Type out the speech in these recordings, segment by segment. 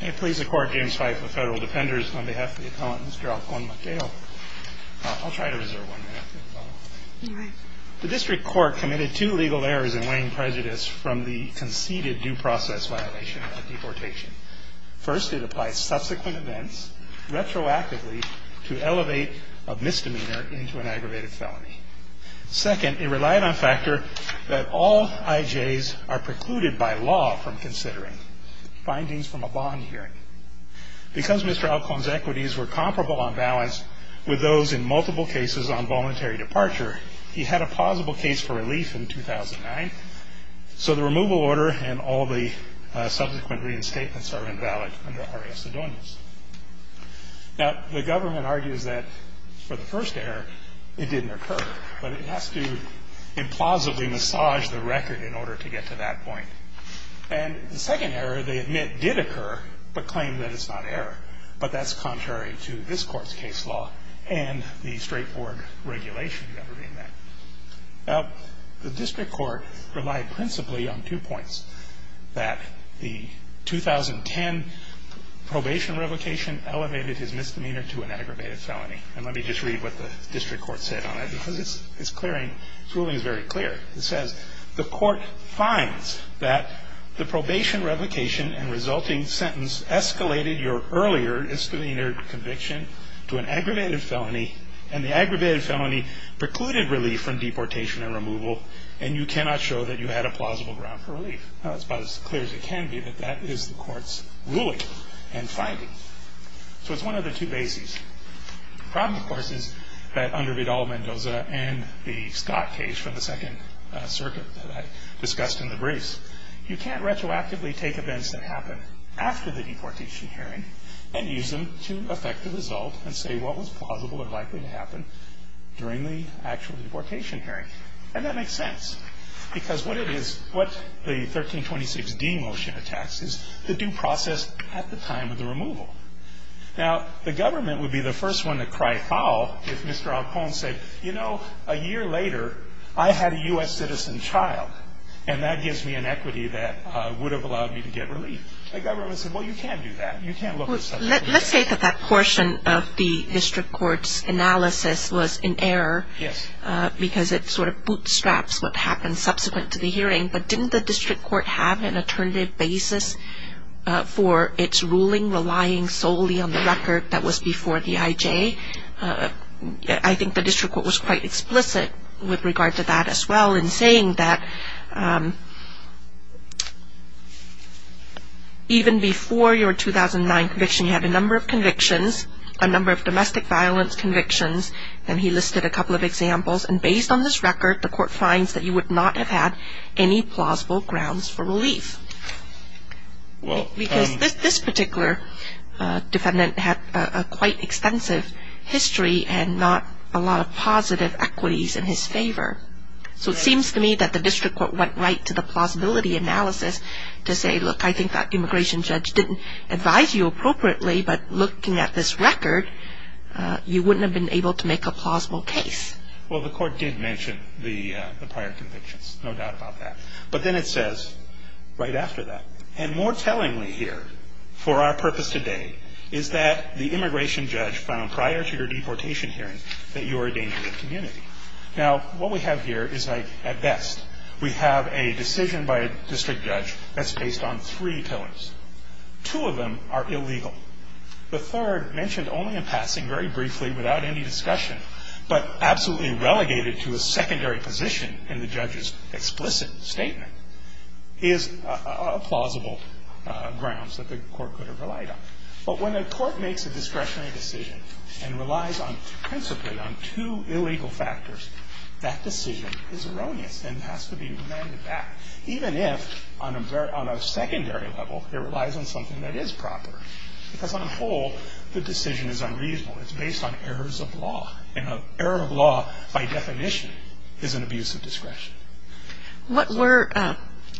The District Court committed two legal errors in weighing prejudice from the conceded due process violation of deportation. First, it applied subsequent events retroactively to elevate a misdemeanor into an aggravated felony. Second, it relied on factor that all IJs are precluded by law from considering findings from a bond hearing. Because Mr. Alcon's equities were comparable on balance with those in multiple cases on voluntary departure, he had a plausible case for relief in 2009. So the removal order and all the subsequent reinstatements are invalid under RA Sedonius. Now, the government argues that for the first error, it didn't occur, but it has to implausibly massage the record in order to get to that point. And the second error, they admit, did occur, but claim that it's not error, but that's contrary to this Court's case law and the straightforward regulation governing that. Now, the District Court relied principally on two points, that the 2010 probation revocation elevated his misdemeanor to an aggravated felony. And let me just read what the District Court said on it, because it's clearing, its ruling is very clear. It says, the Court finds that the probation revocation and resulting sentence escalated your earlier misdemeanor conviction to an aggravated felony, and the aggravated felony precluded relief from deportation and removal, and you cannot show that you had a plausible ground for relief. Now, it's about as clear as it can be that that is the Court's ruling and finding. So it's one of the two bases. The problem, of course, is that under Vidal-Mendoza and the Scott case from the Second Circuit that I discussed in the briefs, you can't retroactively take events that happen after the deportation hearing and use them to affect the result and say what was plausible or likely to happen during the actual deportation hearing. And that makes sense, because what it is, what the 1326d motion attacks is the due process at the time of the removal. Now, the government would be the first one to cry foul if Mr. Alcon said, you know, a year later, I had a U.S. citizen child, and that gives me an equity that would have allowed me to get relief. The government said, well, you can't do that. You can't look at such a thing. Let's say that that portion of the district court's analysis was in error because it sort of bootstraps what happened subsequent to the hearing, but didn't the district court have an alternative basis for its ruling relying solely on the record that was before the IJ? I think the district court was quite explicit with regard to that as well in saying that even before your 2009 conviction, you had a number of convictions, a number of domestic violence convictions, and he listed a couple of examples. And based on this record, the court finds that you would not have had any plausible grounds for relief. Because this particular defendant had a quite extensive history and not a lot of positive equities in his favor. So it seems to me that the district court went right to the plausibility analysis to say, look, I think that immigration judge didn't advise you appropriately, but looking at this record, you wouldn't have been able to make a plausible case. Well, the court did mention the prior convictions, no doubt about that. But then it says right after that, and more tellingly here for our purpose today, is that the immigration judge found prior to your deportation hearing that you were a danger to the community. Now, what we have here is like, at best, we have a decision by a district judge that's based on three pillars. Two of them are illegal. The third, mentioned only in passing very briefly without any discussion, but absolutely relegated to a secondary position in the judge's explicit statement, is plausible grounds that the court could have relied on. But when a court makes a discretionary decision and relies principally on two illegal factors, that decision is erroneous and has to be remanded back, even if on a secondary level, it relies on something that is proper. Because on whole, the decision is unreasonable. It's based on errors of law. And an error of law, by definition, is an abuse of discretion. What were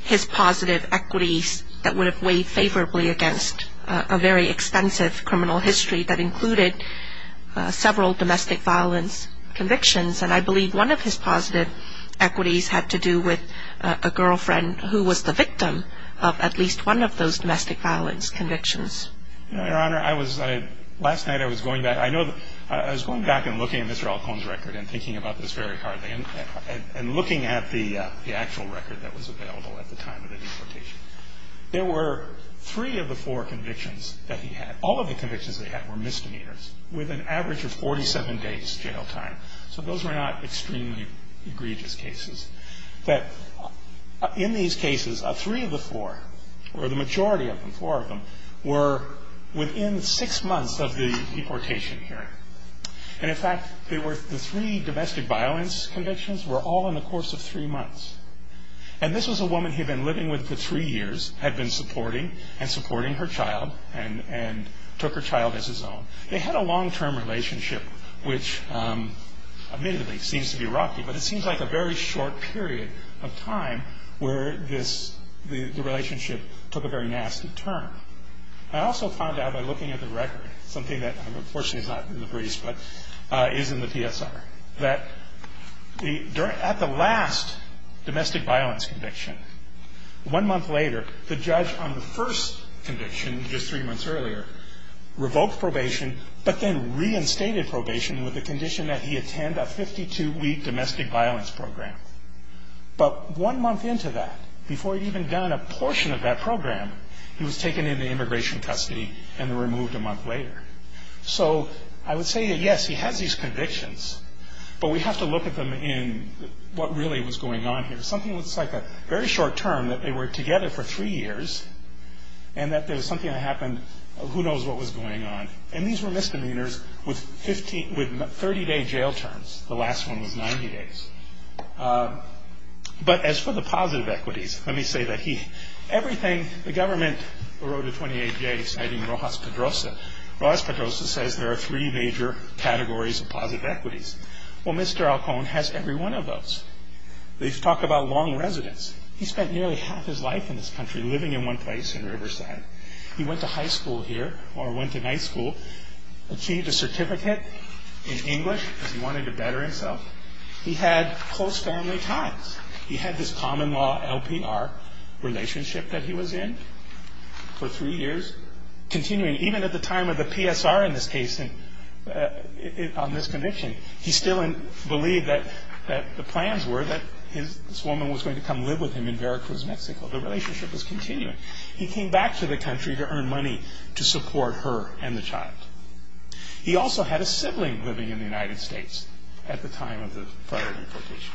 his positive equities that would have weighed favorably against a very extensive criminal history that included several domestic violence convictions? And I believe one of his positive equities had to do with a girlfriend who was the victim of at least one of those domestic violence convictions. Your Honor, last night I was going back. I was going back and looking at Mr. Alcone's record and thinking about this very heartily and looking at the actual record that was available at the time of the deportation. There were three of the four convictions that he had. All of the convictions that he had were misdemeanors with an average of 47 days jail time. So those were not extremely egregious cases. But in these cases, three of the four, or the majority of them, four of them, were within six months of the deportation hearing. And, in fact, the three domestic violence convictions were all in the course of three months. And this was a woman he had been living with for three years, had been supporting and supporting her child, and took her child as his own. They had a long-term relationship which, admittedly, seems to be rocky, but it seems like a very short period of time where the relationship took a very nasty turn. I also found out by looking at the record, something that unfortunately is not in the briefs but is in the PSR, that at the last domestic violence conviction, one month later, the judge on the first conviction, just three months earlier, revoked probation, but then reinstated probation with the condition that he attend a 52-week domestic violence program. But one month into that, before he'd even done a portion of that program, he was taken into immigration custody and removed a month later. So I would say that, yes, he has these convictions, but we have to look at them in what really was going on here. Something that's like a very short term, that they were together for three years, and that there was something that happened, who knows what was going on. And these were misdemeanors with 30-day jail terms. The last one was 90 days. But as for the positive equities, let me say that he, everything, the government wrote a 28-J citing Rojas Pedrosa. Rojas Pedrosa says there are three major categories of positive equities. Well, Mr. Alcone has every one of those. They talk about long residence. He spent nearly half his life in this country living in one place in Riverside. He went to high school here, or went to night school, achieved a certificate in English because he wanted to better himself. He had close family ties. He had this common law LPR relationship that he was in for three years, continuing even at the time of the PSR in this case, on this conviction. He still believed that the plans were that this woman was going to come live with him in Veracruz, Mexico. The relationship was continuing. He came back to the country to earn money to support her and the child. He also had a sibling living in the United States at the time of the federal deportation.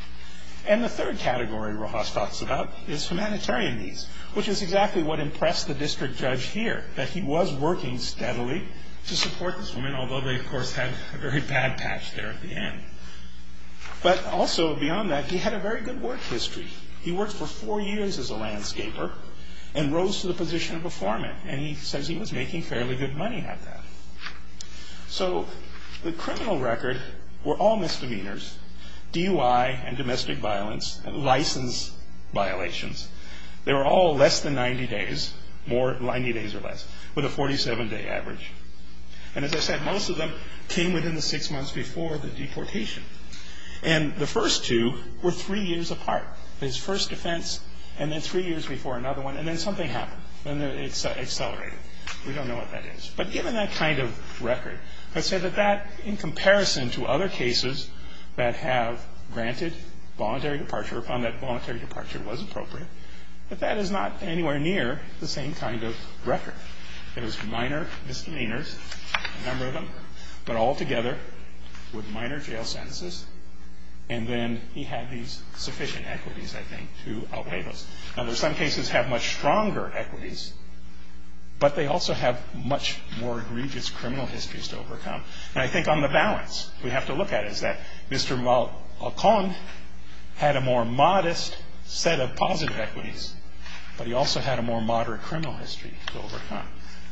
And the third category Rojas talks about is humanitarian needs, which is exactly what impressed the district judge here, that he was working steadily to support this woman, although they, of course, had a very bad patch there at the end. But also beyond that, he had a very good work history. He worked for four years as a landscaper and rose to the position of a foreman, and he says he was making fairly good money at that. So the criminal record were all misdemeanors, DUI and domestic violence, and license violations. They were all less than 90 days, more than 90 days or less, with a 47-day average. And as I said, most of them came within the six months before the deportation. And the first two were three years apart. His first offense and then three years before another one, and then something happened. Then it accelerated. We don't know what that is. But given that kind of record, let's say that that, in comparison to other cases that have granted voluntary departure or found that voluntary departure was appropriate, that that is not anywhere near the same kind of record. It was minor misdemeanors, a number of them, but altogether with minor jail sentences. And then he had these sufficient equities, I think, to outweigh those. Now, there are some cases that have much stronger equities, but they also have much more egregious criminal histories to overcome. And I think on the balance we have to look at is that Mr. Malcon had a more modest set of positive equities, but he also had a more moderate criminal history to overcome,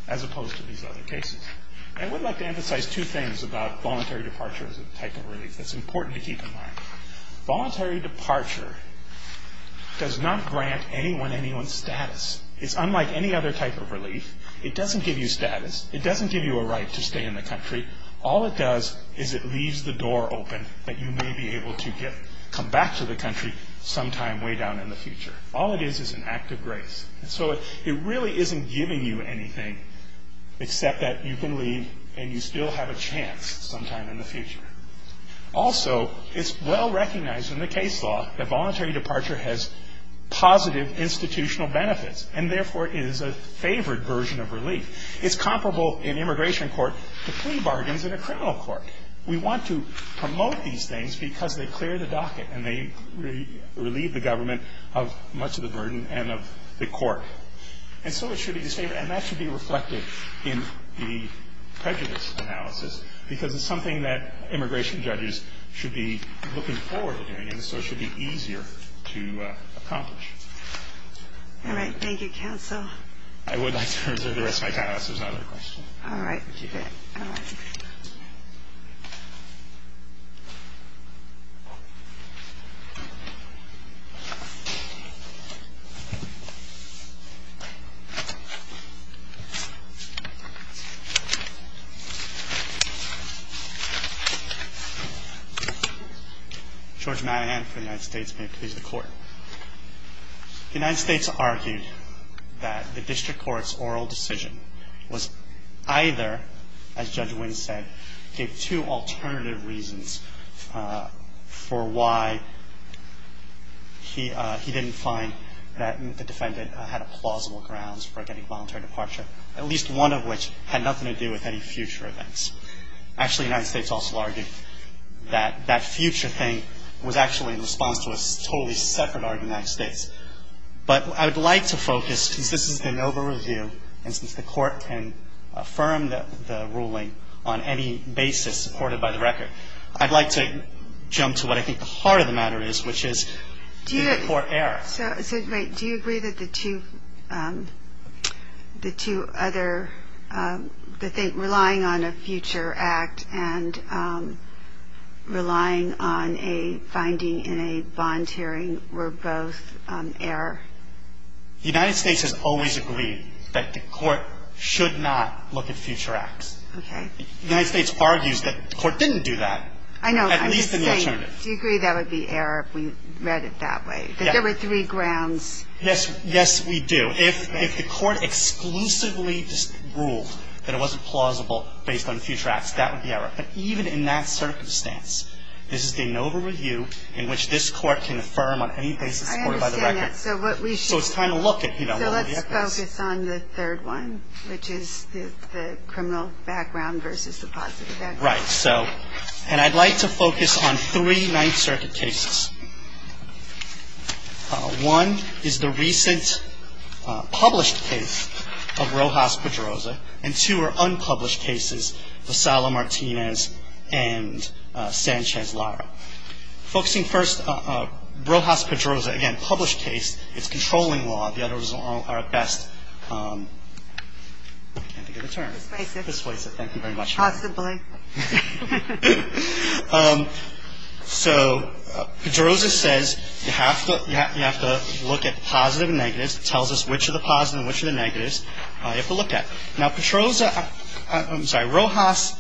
as opposed to these other cases. I would like to emphasize two things about voluntary departure as a type of relief that's important to keep in mind. Voluntary departure does not grant anyone anyone's status. It's unlike any other type of relief. It doesn't give you status. It doesn't give you a right to stay in the country. All it does is it leaves the door open that you may be able to come back to the country sometime way down in the future. All it is is an act of grace. And so it really isn't giving you anything except that you can leave and you still have a chance sometime in the future. Also, it's well recognized in the case law that voluntary departure has positive institutional benefits and therefore is a favored version of relief. It's comparable in immigration court to plea bargains in a criminal court. We want to promote these things because they clear the docket and they relieve the government of much of the burden and of the court. And so it should be the same, and that should be reflected in the prejudice analysis because it's something that immigration judges should be looking forward to doing and so it should be easier to accomplish. All right. Thank you, counsel. I would like to reserve the rest of my time. This is not a question. All right. Thank you. George Madigan for the United States. The United States argued that the district court's oral decision was either, as Judge Wynn said, gave two alternative reasons for why he didn't find that the defendant had plausible grounds for getting voluntary departure, at least one of which had nothing to do with any future events. Actually, the United States also argued that that future thing was actually in response to a totally separate argument of the United States. But I would like to focus, since this is the NOVA review and since the court can affirm the ruling on any basis supported by the record, I'd like to jump to what I think the heart of the matter is, which is did the court err? So do you agree that the two other, that relying on a future act and relying on a finding in a bond hearing were both error? The United States has always agreed that the court should not look at future acts. Okay. The United States argues that the court didn't do that. I know. At least in the alternative. Do you agree that would be error if we read it that way? That there were three grounds? Yes. Yes, we do. If the court exclusively ruled that it wasn't plausible based on future acts, that would be error. But even in that circumstance, this is the NOVA review in which this court can affirm on any basis supported by the record. I understand that. So it's time to look at, you know, what would be at best. So let's focus on the third one, which is the criminal background versus the positive background. Right. So, and I'd like to focus on three Ninth Circuit cases. One is the recent published case of Rojas-Pedroza, and two are unpublished cases, Vassallo-Martinez and Sanchez-Lara. Focusing first on Rojas-Pedroza, again, published case, it's controlling law. The others are at best, I can't think of a term. Persuasive. Persuasive. So Pedroza says you have to look at the positive and negatives. It tells us which are the positive and which are the negatives. You have to look at it. Now, Pedroza, I'm sorry, Rojas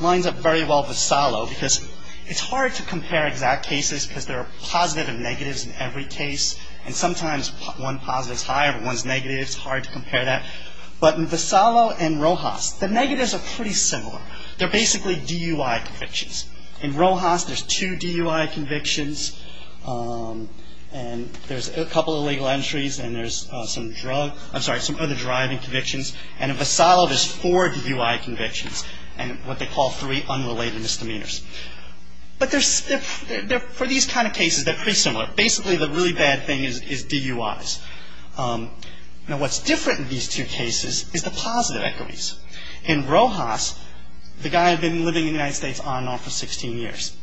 lines up very well with Vassallo because it's hard to compare exact cases because there are positive and negatives in every case, and sometimes one positive is higher than one's negative. It's hard to compare that. But Vassallo and Rojas, the negatives are pretty similar. They're basically DUI convictions. In Rojas, there's two DUI convictions, and there's a couple of legal entries, and there's some drug, I'm sorry, some other driving convictions. And in Vassallo, there's four DUI convictions and what they call three unrelated misdemeanors. But for these kind of cases, they're pretty similar. Basically, the really bad thing is DUIs. Now, what's different in these two cases is the positive equities. In Rojas, the guy had been living in the United States on and off for 16 years.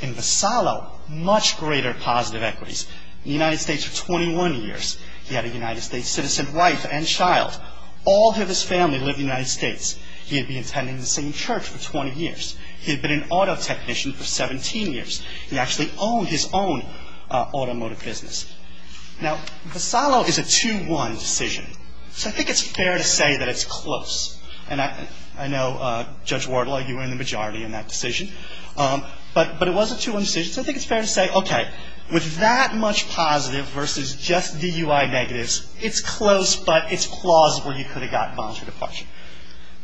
In Vassallo, much greater positive equities. In the United States for 21 years, he had a United States citizen wife and child. All of his family lived in the United States. He had been attending the same church for 20 years. He had been an auto technician for 17 years. He actually owned his own automotive business. Now, Vassallo is a 2-1 decision, so I think it's fair to say that it's close. And I know, Judge Wardlaw, you were in the majority in that decision. But it was a 2-1 decision, so I think it's fair to say, okay, with that much positive versus just DUI negatives, it's close, but it's plausible you could have gotten bonded to the question.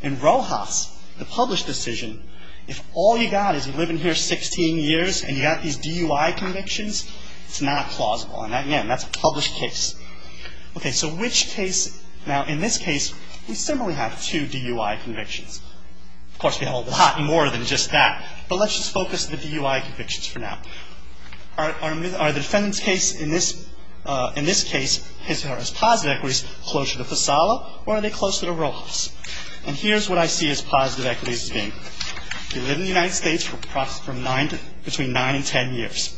In Rojas, the published decision, if all you got is you've been living here 16 years and you got these DUI convictions, it's not plausible. And again, that's a published case. Okay, so which case? Now, in this case, we similarly have two DUI convictions. Of course, we have a lot more than just that, but let's just focus on the DUI convictions for now. Are the defendant's case in this case, his or her positive equities, closer to Vassallo, or are they closer to Rojas? And here's what I see his positive equities as being. He lived in the United States for between 9 and 10 years.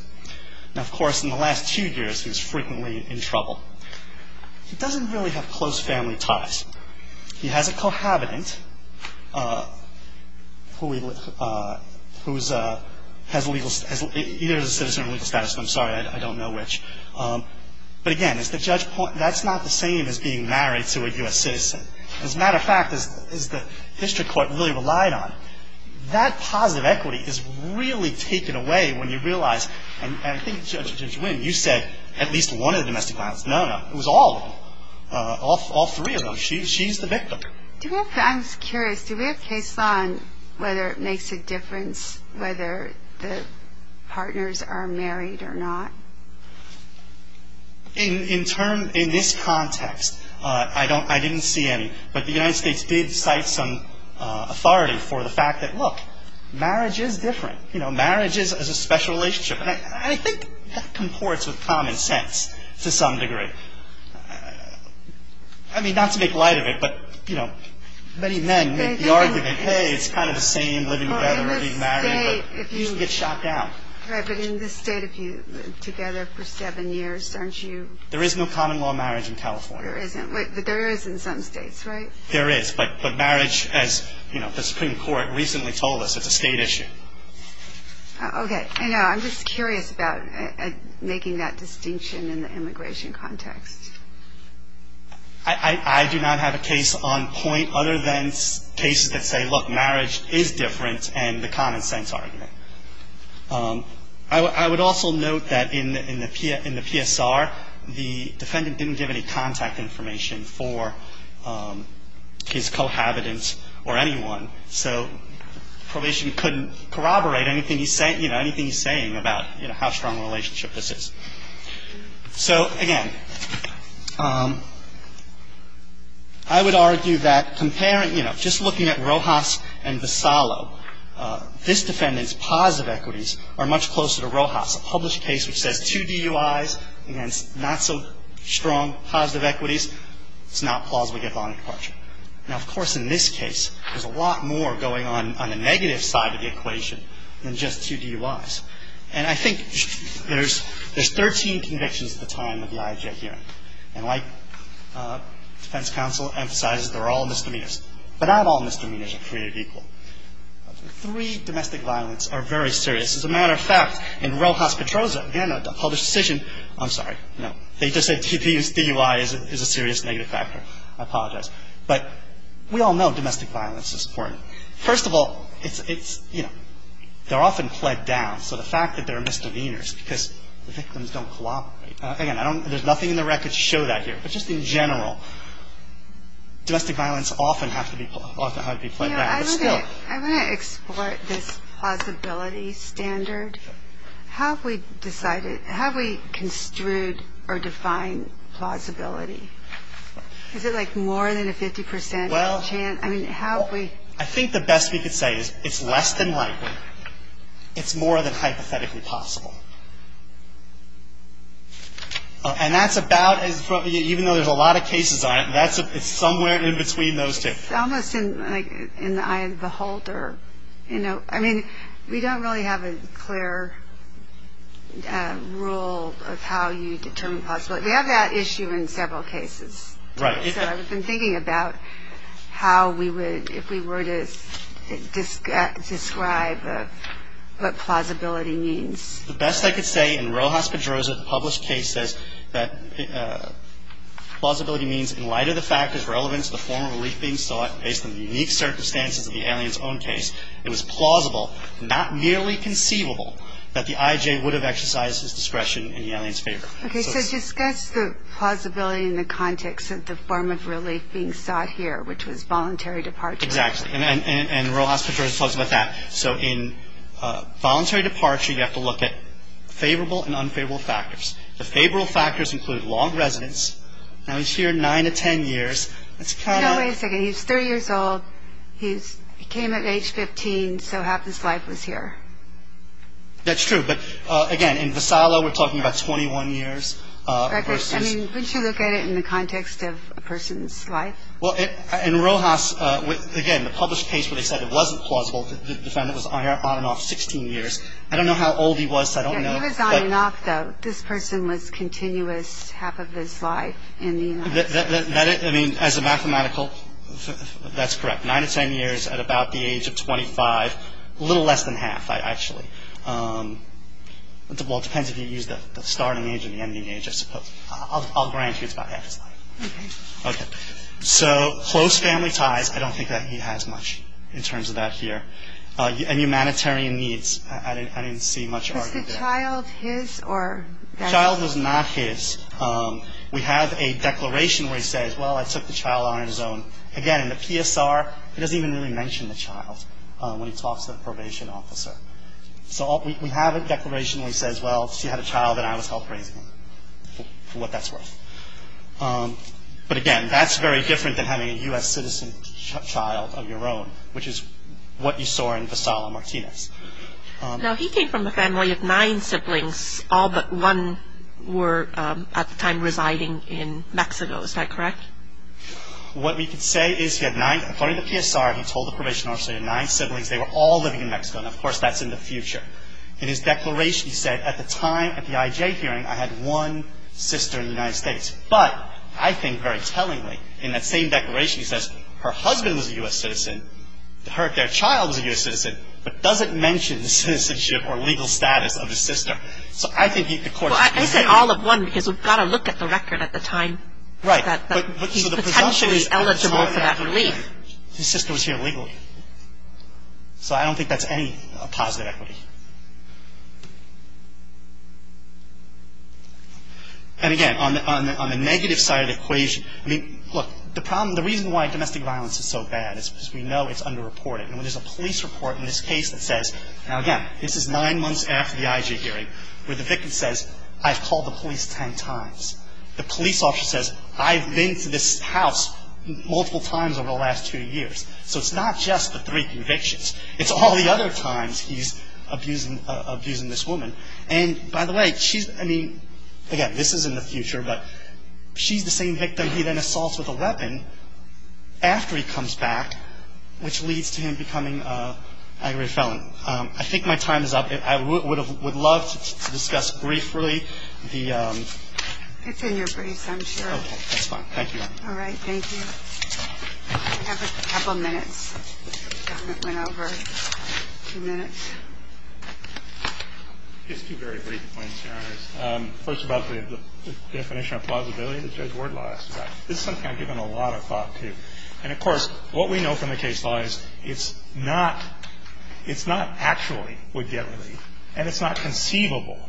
Now, of course, in the last two years, he was frequently in trouble. He doesn't really have close family ties. He has a cohabitant who has either a citizen or legal status, and I'm sorry, I don't know which. But again, as the judge pointed out, that's not the same as being married to a U.S. citizen. As a matter of fact, as the district court really relied on, that positive equity is really taken away when you realize, and I think Judge Winn, you said at least one of the domestic violence. No, no, it was all of them, all three of them. She's the victim. I'm just curious, do we have case law on whether it makes a difference whether the partners are married or not? In this context, I didn't see any. But the United States did cite some authority for the fact that, look, marriage is different. Marriage is a special relationship, and I think that comports with common sense to some degree. I mean, not to make light of it, but many men make the argument, hey, it's kind of the same living together, being married, but you get shot down. Right, but in this state, if you live together for seven years, aren't you? There is no common law marriage in California. There isn't, but there is in some states, right? There is, but marriage, as the Supreme Court recently told us, is a state issue. Okay, I know. I'm just curious about making that distinction in the immigration context. I do not have a case on point other than cases that say, look, marriage is different and the common sense argument. I would also note that in the PSR, the defendant didn't give any contact information for his cohabitants or anyone, so probation couldn't corroborate anything he's saying about how strong a relationship this is. So, again, I would argue that comparing, you know, just looking at Rojas and Visalo, this defendant's positive equities are much closer to Rojas. A published case which says two DUIs against not so strong positive equities, it's not plausible to get bond departure. Now, of course, in this case, there's a lot more going on on the negative side of the equation than just two DUIs, and I think there's 13 convictions at the time of the IJ hearing, and defense counsel emphasizes they're all misdemeanors, but not all misdemeanors are created equal. Three domestic violence are very serious. As a matter of fact, in Rojas-Petroza, again, a published decision, I'm sorry, no, they just said DUI is a serious negative factor. I apologize. But we all know domestic violence is important. First of all, it's, you know, they're often pled down. So the fact that they're misdemeanors because the victims don't cooperate. Again, there's nothing in the record to show that here. But just in general, domestic violence often have to be pled down. I want to explore this plausibility standard. How have we decided, how have we construed or defined plausibility? Is it like more than a 50% chance? I think the best we could say is it's less than likely, it's more than hypothetically possible. And that's about, even though there's a lot of cases on it, it's somewhere in between those two. It's almost in the eye of the holder. I mean, we don't really have a clear rule of how you determine plausibility. We have that issue in several cases. Right. So I've been thinking about how we would, if we were to describe what plausibility means. The best I could say in Rojas Pedroza, the published case, says that plausibility means in light of the fact it's relevant to the form of relief being sought based on the unique circumstances of the alien's own case, it was plausible, not merely conceivable, that the IJ would have exercised his discretion in the alien's favor. Okay, so discuss the plausibility in the context of the form of relief being sought here, which was voluntary departure. Exactly. And Rojas Pedroza talks about that. So in voluntary departure, you have to look at favorable and unfavorable factors. The favorable factors include long residence. Now, he's here 9 to 10 years. No, wait a second. He's 30 years old. He came at age 15, so half his life was here. That's true. But, again, in Vassallo, we're talking about 21 years. I mean, wouldn't you look at it in the context of a person's life? Well, in Rojas, again, the published case where they said it wasn't plausible, the defendant was on and off 16 years. I don't know how old he was, so I don't know. Yeah, he was on and off, though. This person was continuous half of his life in the United States. I mean, as a mathematical, that's correct. 9 to 10 years at about the age of 25. A little less than half, actually. Well, it depends if you use the starting age or the ending age, I suppose. I'll grant you it's about half his life. Okay. So close family ties, I don't think that he has much in terms of that here. And humanitarian needs, I didn't see much argument there. Was the child his or not his? The child was not his. We have a declaration where he says, well, I took the child on his own. Again, in the PSR, he doesn't even really mention the child when he talks to the probation officer. So we have a declaration where he says, well, she had a child and I was help raising him, for what that's worth. But, again, that's very different than having a U.S. citizen child of your own, which is what you saw in Vassallo Martinez. Now, he came from a family of nine siblings, all but one were at the time residing in Mexico, is that correct? What we can say is he had nine, according to the PSR, he told the probation officer he had nine siblings, they were all living in Mexico, and, of course, that's in the future. In his declaration, he said, at the time, at the IJ hearing, I had one sister in the United States. But I think very tellingly, in that same declaration, he says, her husband was a U.S. citizen, their child was a U.S. citizen, but doesn't mention the citizenship or legal status of his sister. So I think he, the court – Well, I said all of one because we've got to look at the record at the time. Right. But he's potentially eligible for that relief. His sister was here legally. So I don't think that's any positive equity. And, again, on the negative side of the equation, I mean, look, the problem, the reason why domestic violence is so bad is because we know it's underreported. And when there's a police report in this case that says – now, again, this is nine months after the IJ hearing where the victim says, I've called the police ten times. The police officer says, I've been to this house multiple times over the last two years. So it's not just the three convictions. It's all the other times he's abusing this woman. And, by the way, she's – I mean, again, this is in the future, but she's the same victim he then assaults with a weapon after he comes back, which leads to him becoming an aggravated felon. I think my time is up. I would love to discuss briefly the – It's in your briefs, I'm sure. Okay, that's fine. Thank you, Your Honor. All right, thank you. I have a couple minutes. I went over two minutes. Just two very brief points, Your Honors. First about the definition of plausibility that Judge Wardlaw asked about. This is something I've given a lot of thought to. And, of course, what we know from the case law is it's not actually would-get relief, and it's not conceivable.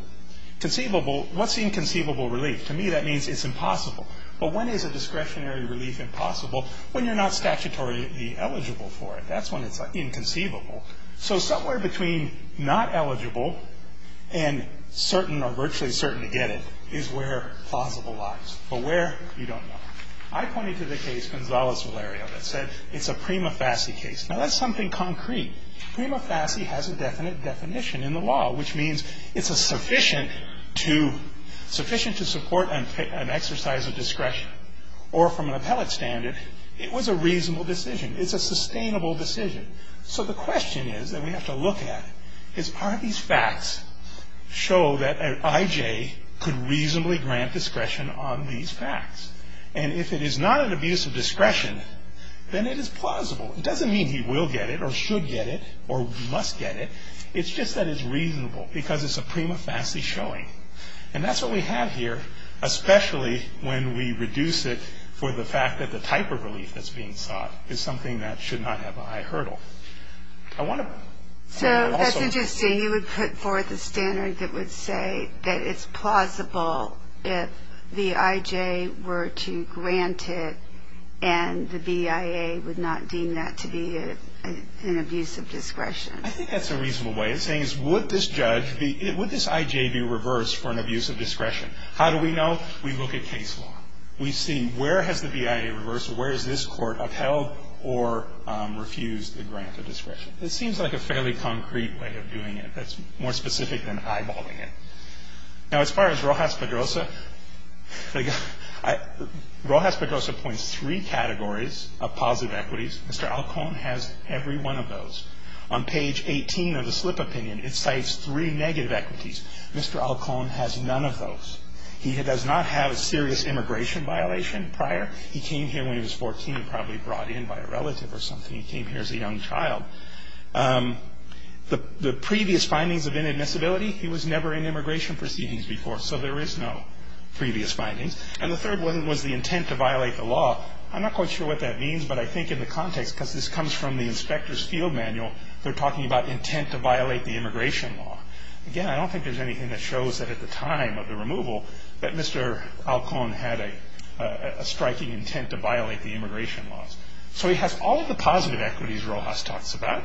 Conceivable, what's the inconceivable relief? To me, that means it's impossible. But when is a discretionary relief impossible? When you're not statutorily eligible for it. That's when it's inconceivable. So somewhere between not eligible and certain or virtually certain to get it is where plausible lies. But where, you don't know. I pointed to the case Gonzales-Valerio that said it's a prima facie case. Now, that's something concrete. Prima facie has a definite definition in the law, which means it's sufficient to support an exercise of discretion. Or from an appellate standard, it was a reasonable decision. It's a sustainable decision. So the question is that we have to look at is are these facts show that an I.J. could reasonably grant discretion on these facts? And if it is not an abuse of discretion, then it is plausible. It doesn't mean he will get it or should get it or must get it. It's just that it's reasonable because it's a prima facie showing. And that's what we have here, especially when we reduce it for the fact that the type of relief that's being sought is something that should not have a high hurdle. I want to also... And the BIA would not deem that to be an abuse of discretion. I think that's a reasonable way of saying is would this judge be... Would this I.J. be reversed for an abuse of discretion? How do we know? We look at case law. We see where has the BIA reversed or where has this court upheld or refused the grant of discretion. It seems like a fairly concrete way of doing it that's more specific than eyeballing it. Now, as far as Rojas Pedrosa, Rojas Pedrosa points three categories of positive equities. Mr. Alcón has every one of those. On page 18 of the slip opinion, it cites three negative equities. Mr. Alcón has none of those. He does not have a serious immigration violation prior. He came here when he was 14, probably brought in by a relative or something. He came here as a young child. The previous findings of inadmissibility, he was never in immigration proceedings before, so there is no previous findings. And the third one was the intent to violate the law. I'm not quite sure what that means, but I think in the context, because this comes from the inspector's field manual, they're talking about intent to violate the immigration law. Again, I don't think there's anything that shows that at the time of the removal that Mr. Alcón had a striking intent to violate the immigration laws. So he has all of the positive equities Rojas talks about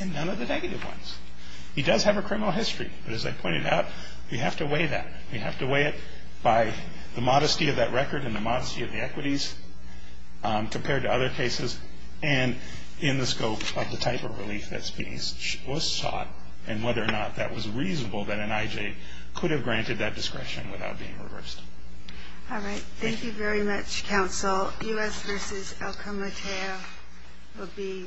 and none of the negative ones. He does have a criminal history, but as I pointed out, we have to weigh that. We have to weigh it by the modesty of that record and the modesty of the equities compared to other cases and in the scope of the type of relief that was sought and whether or not that was reasonable that an IJ could have granted that discretion without being reversed. All right. Thank you very much, counsel. U.S. v. Alcón Mateo will be submitted.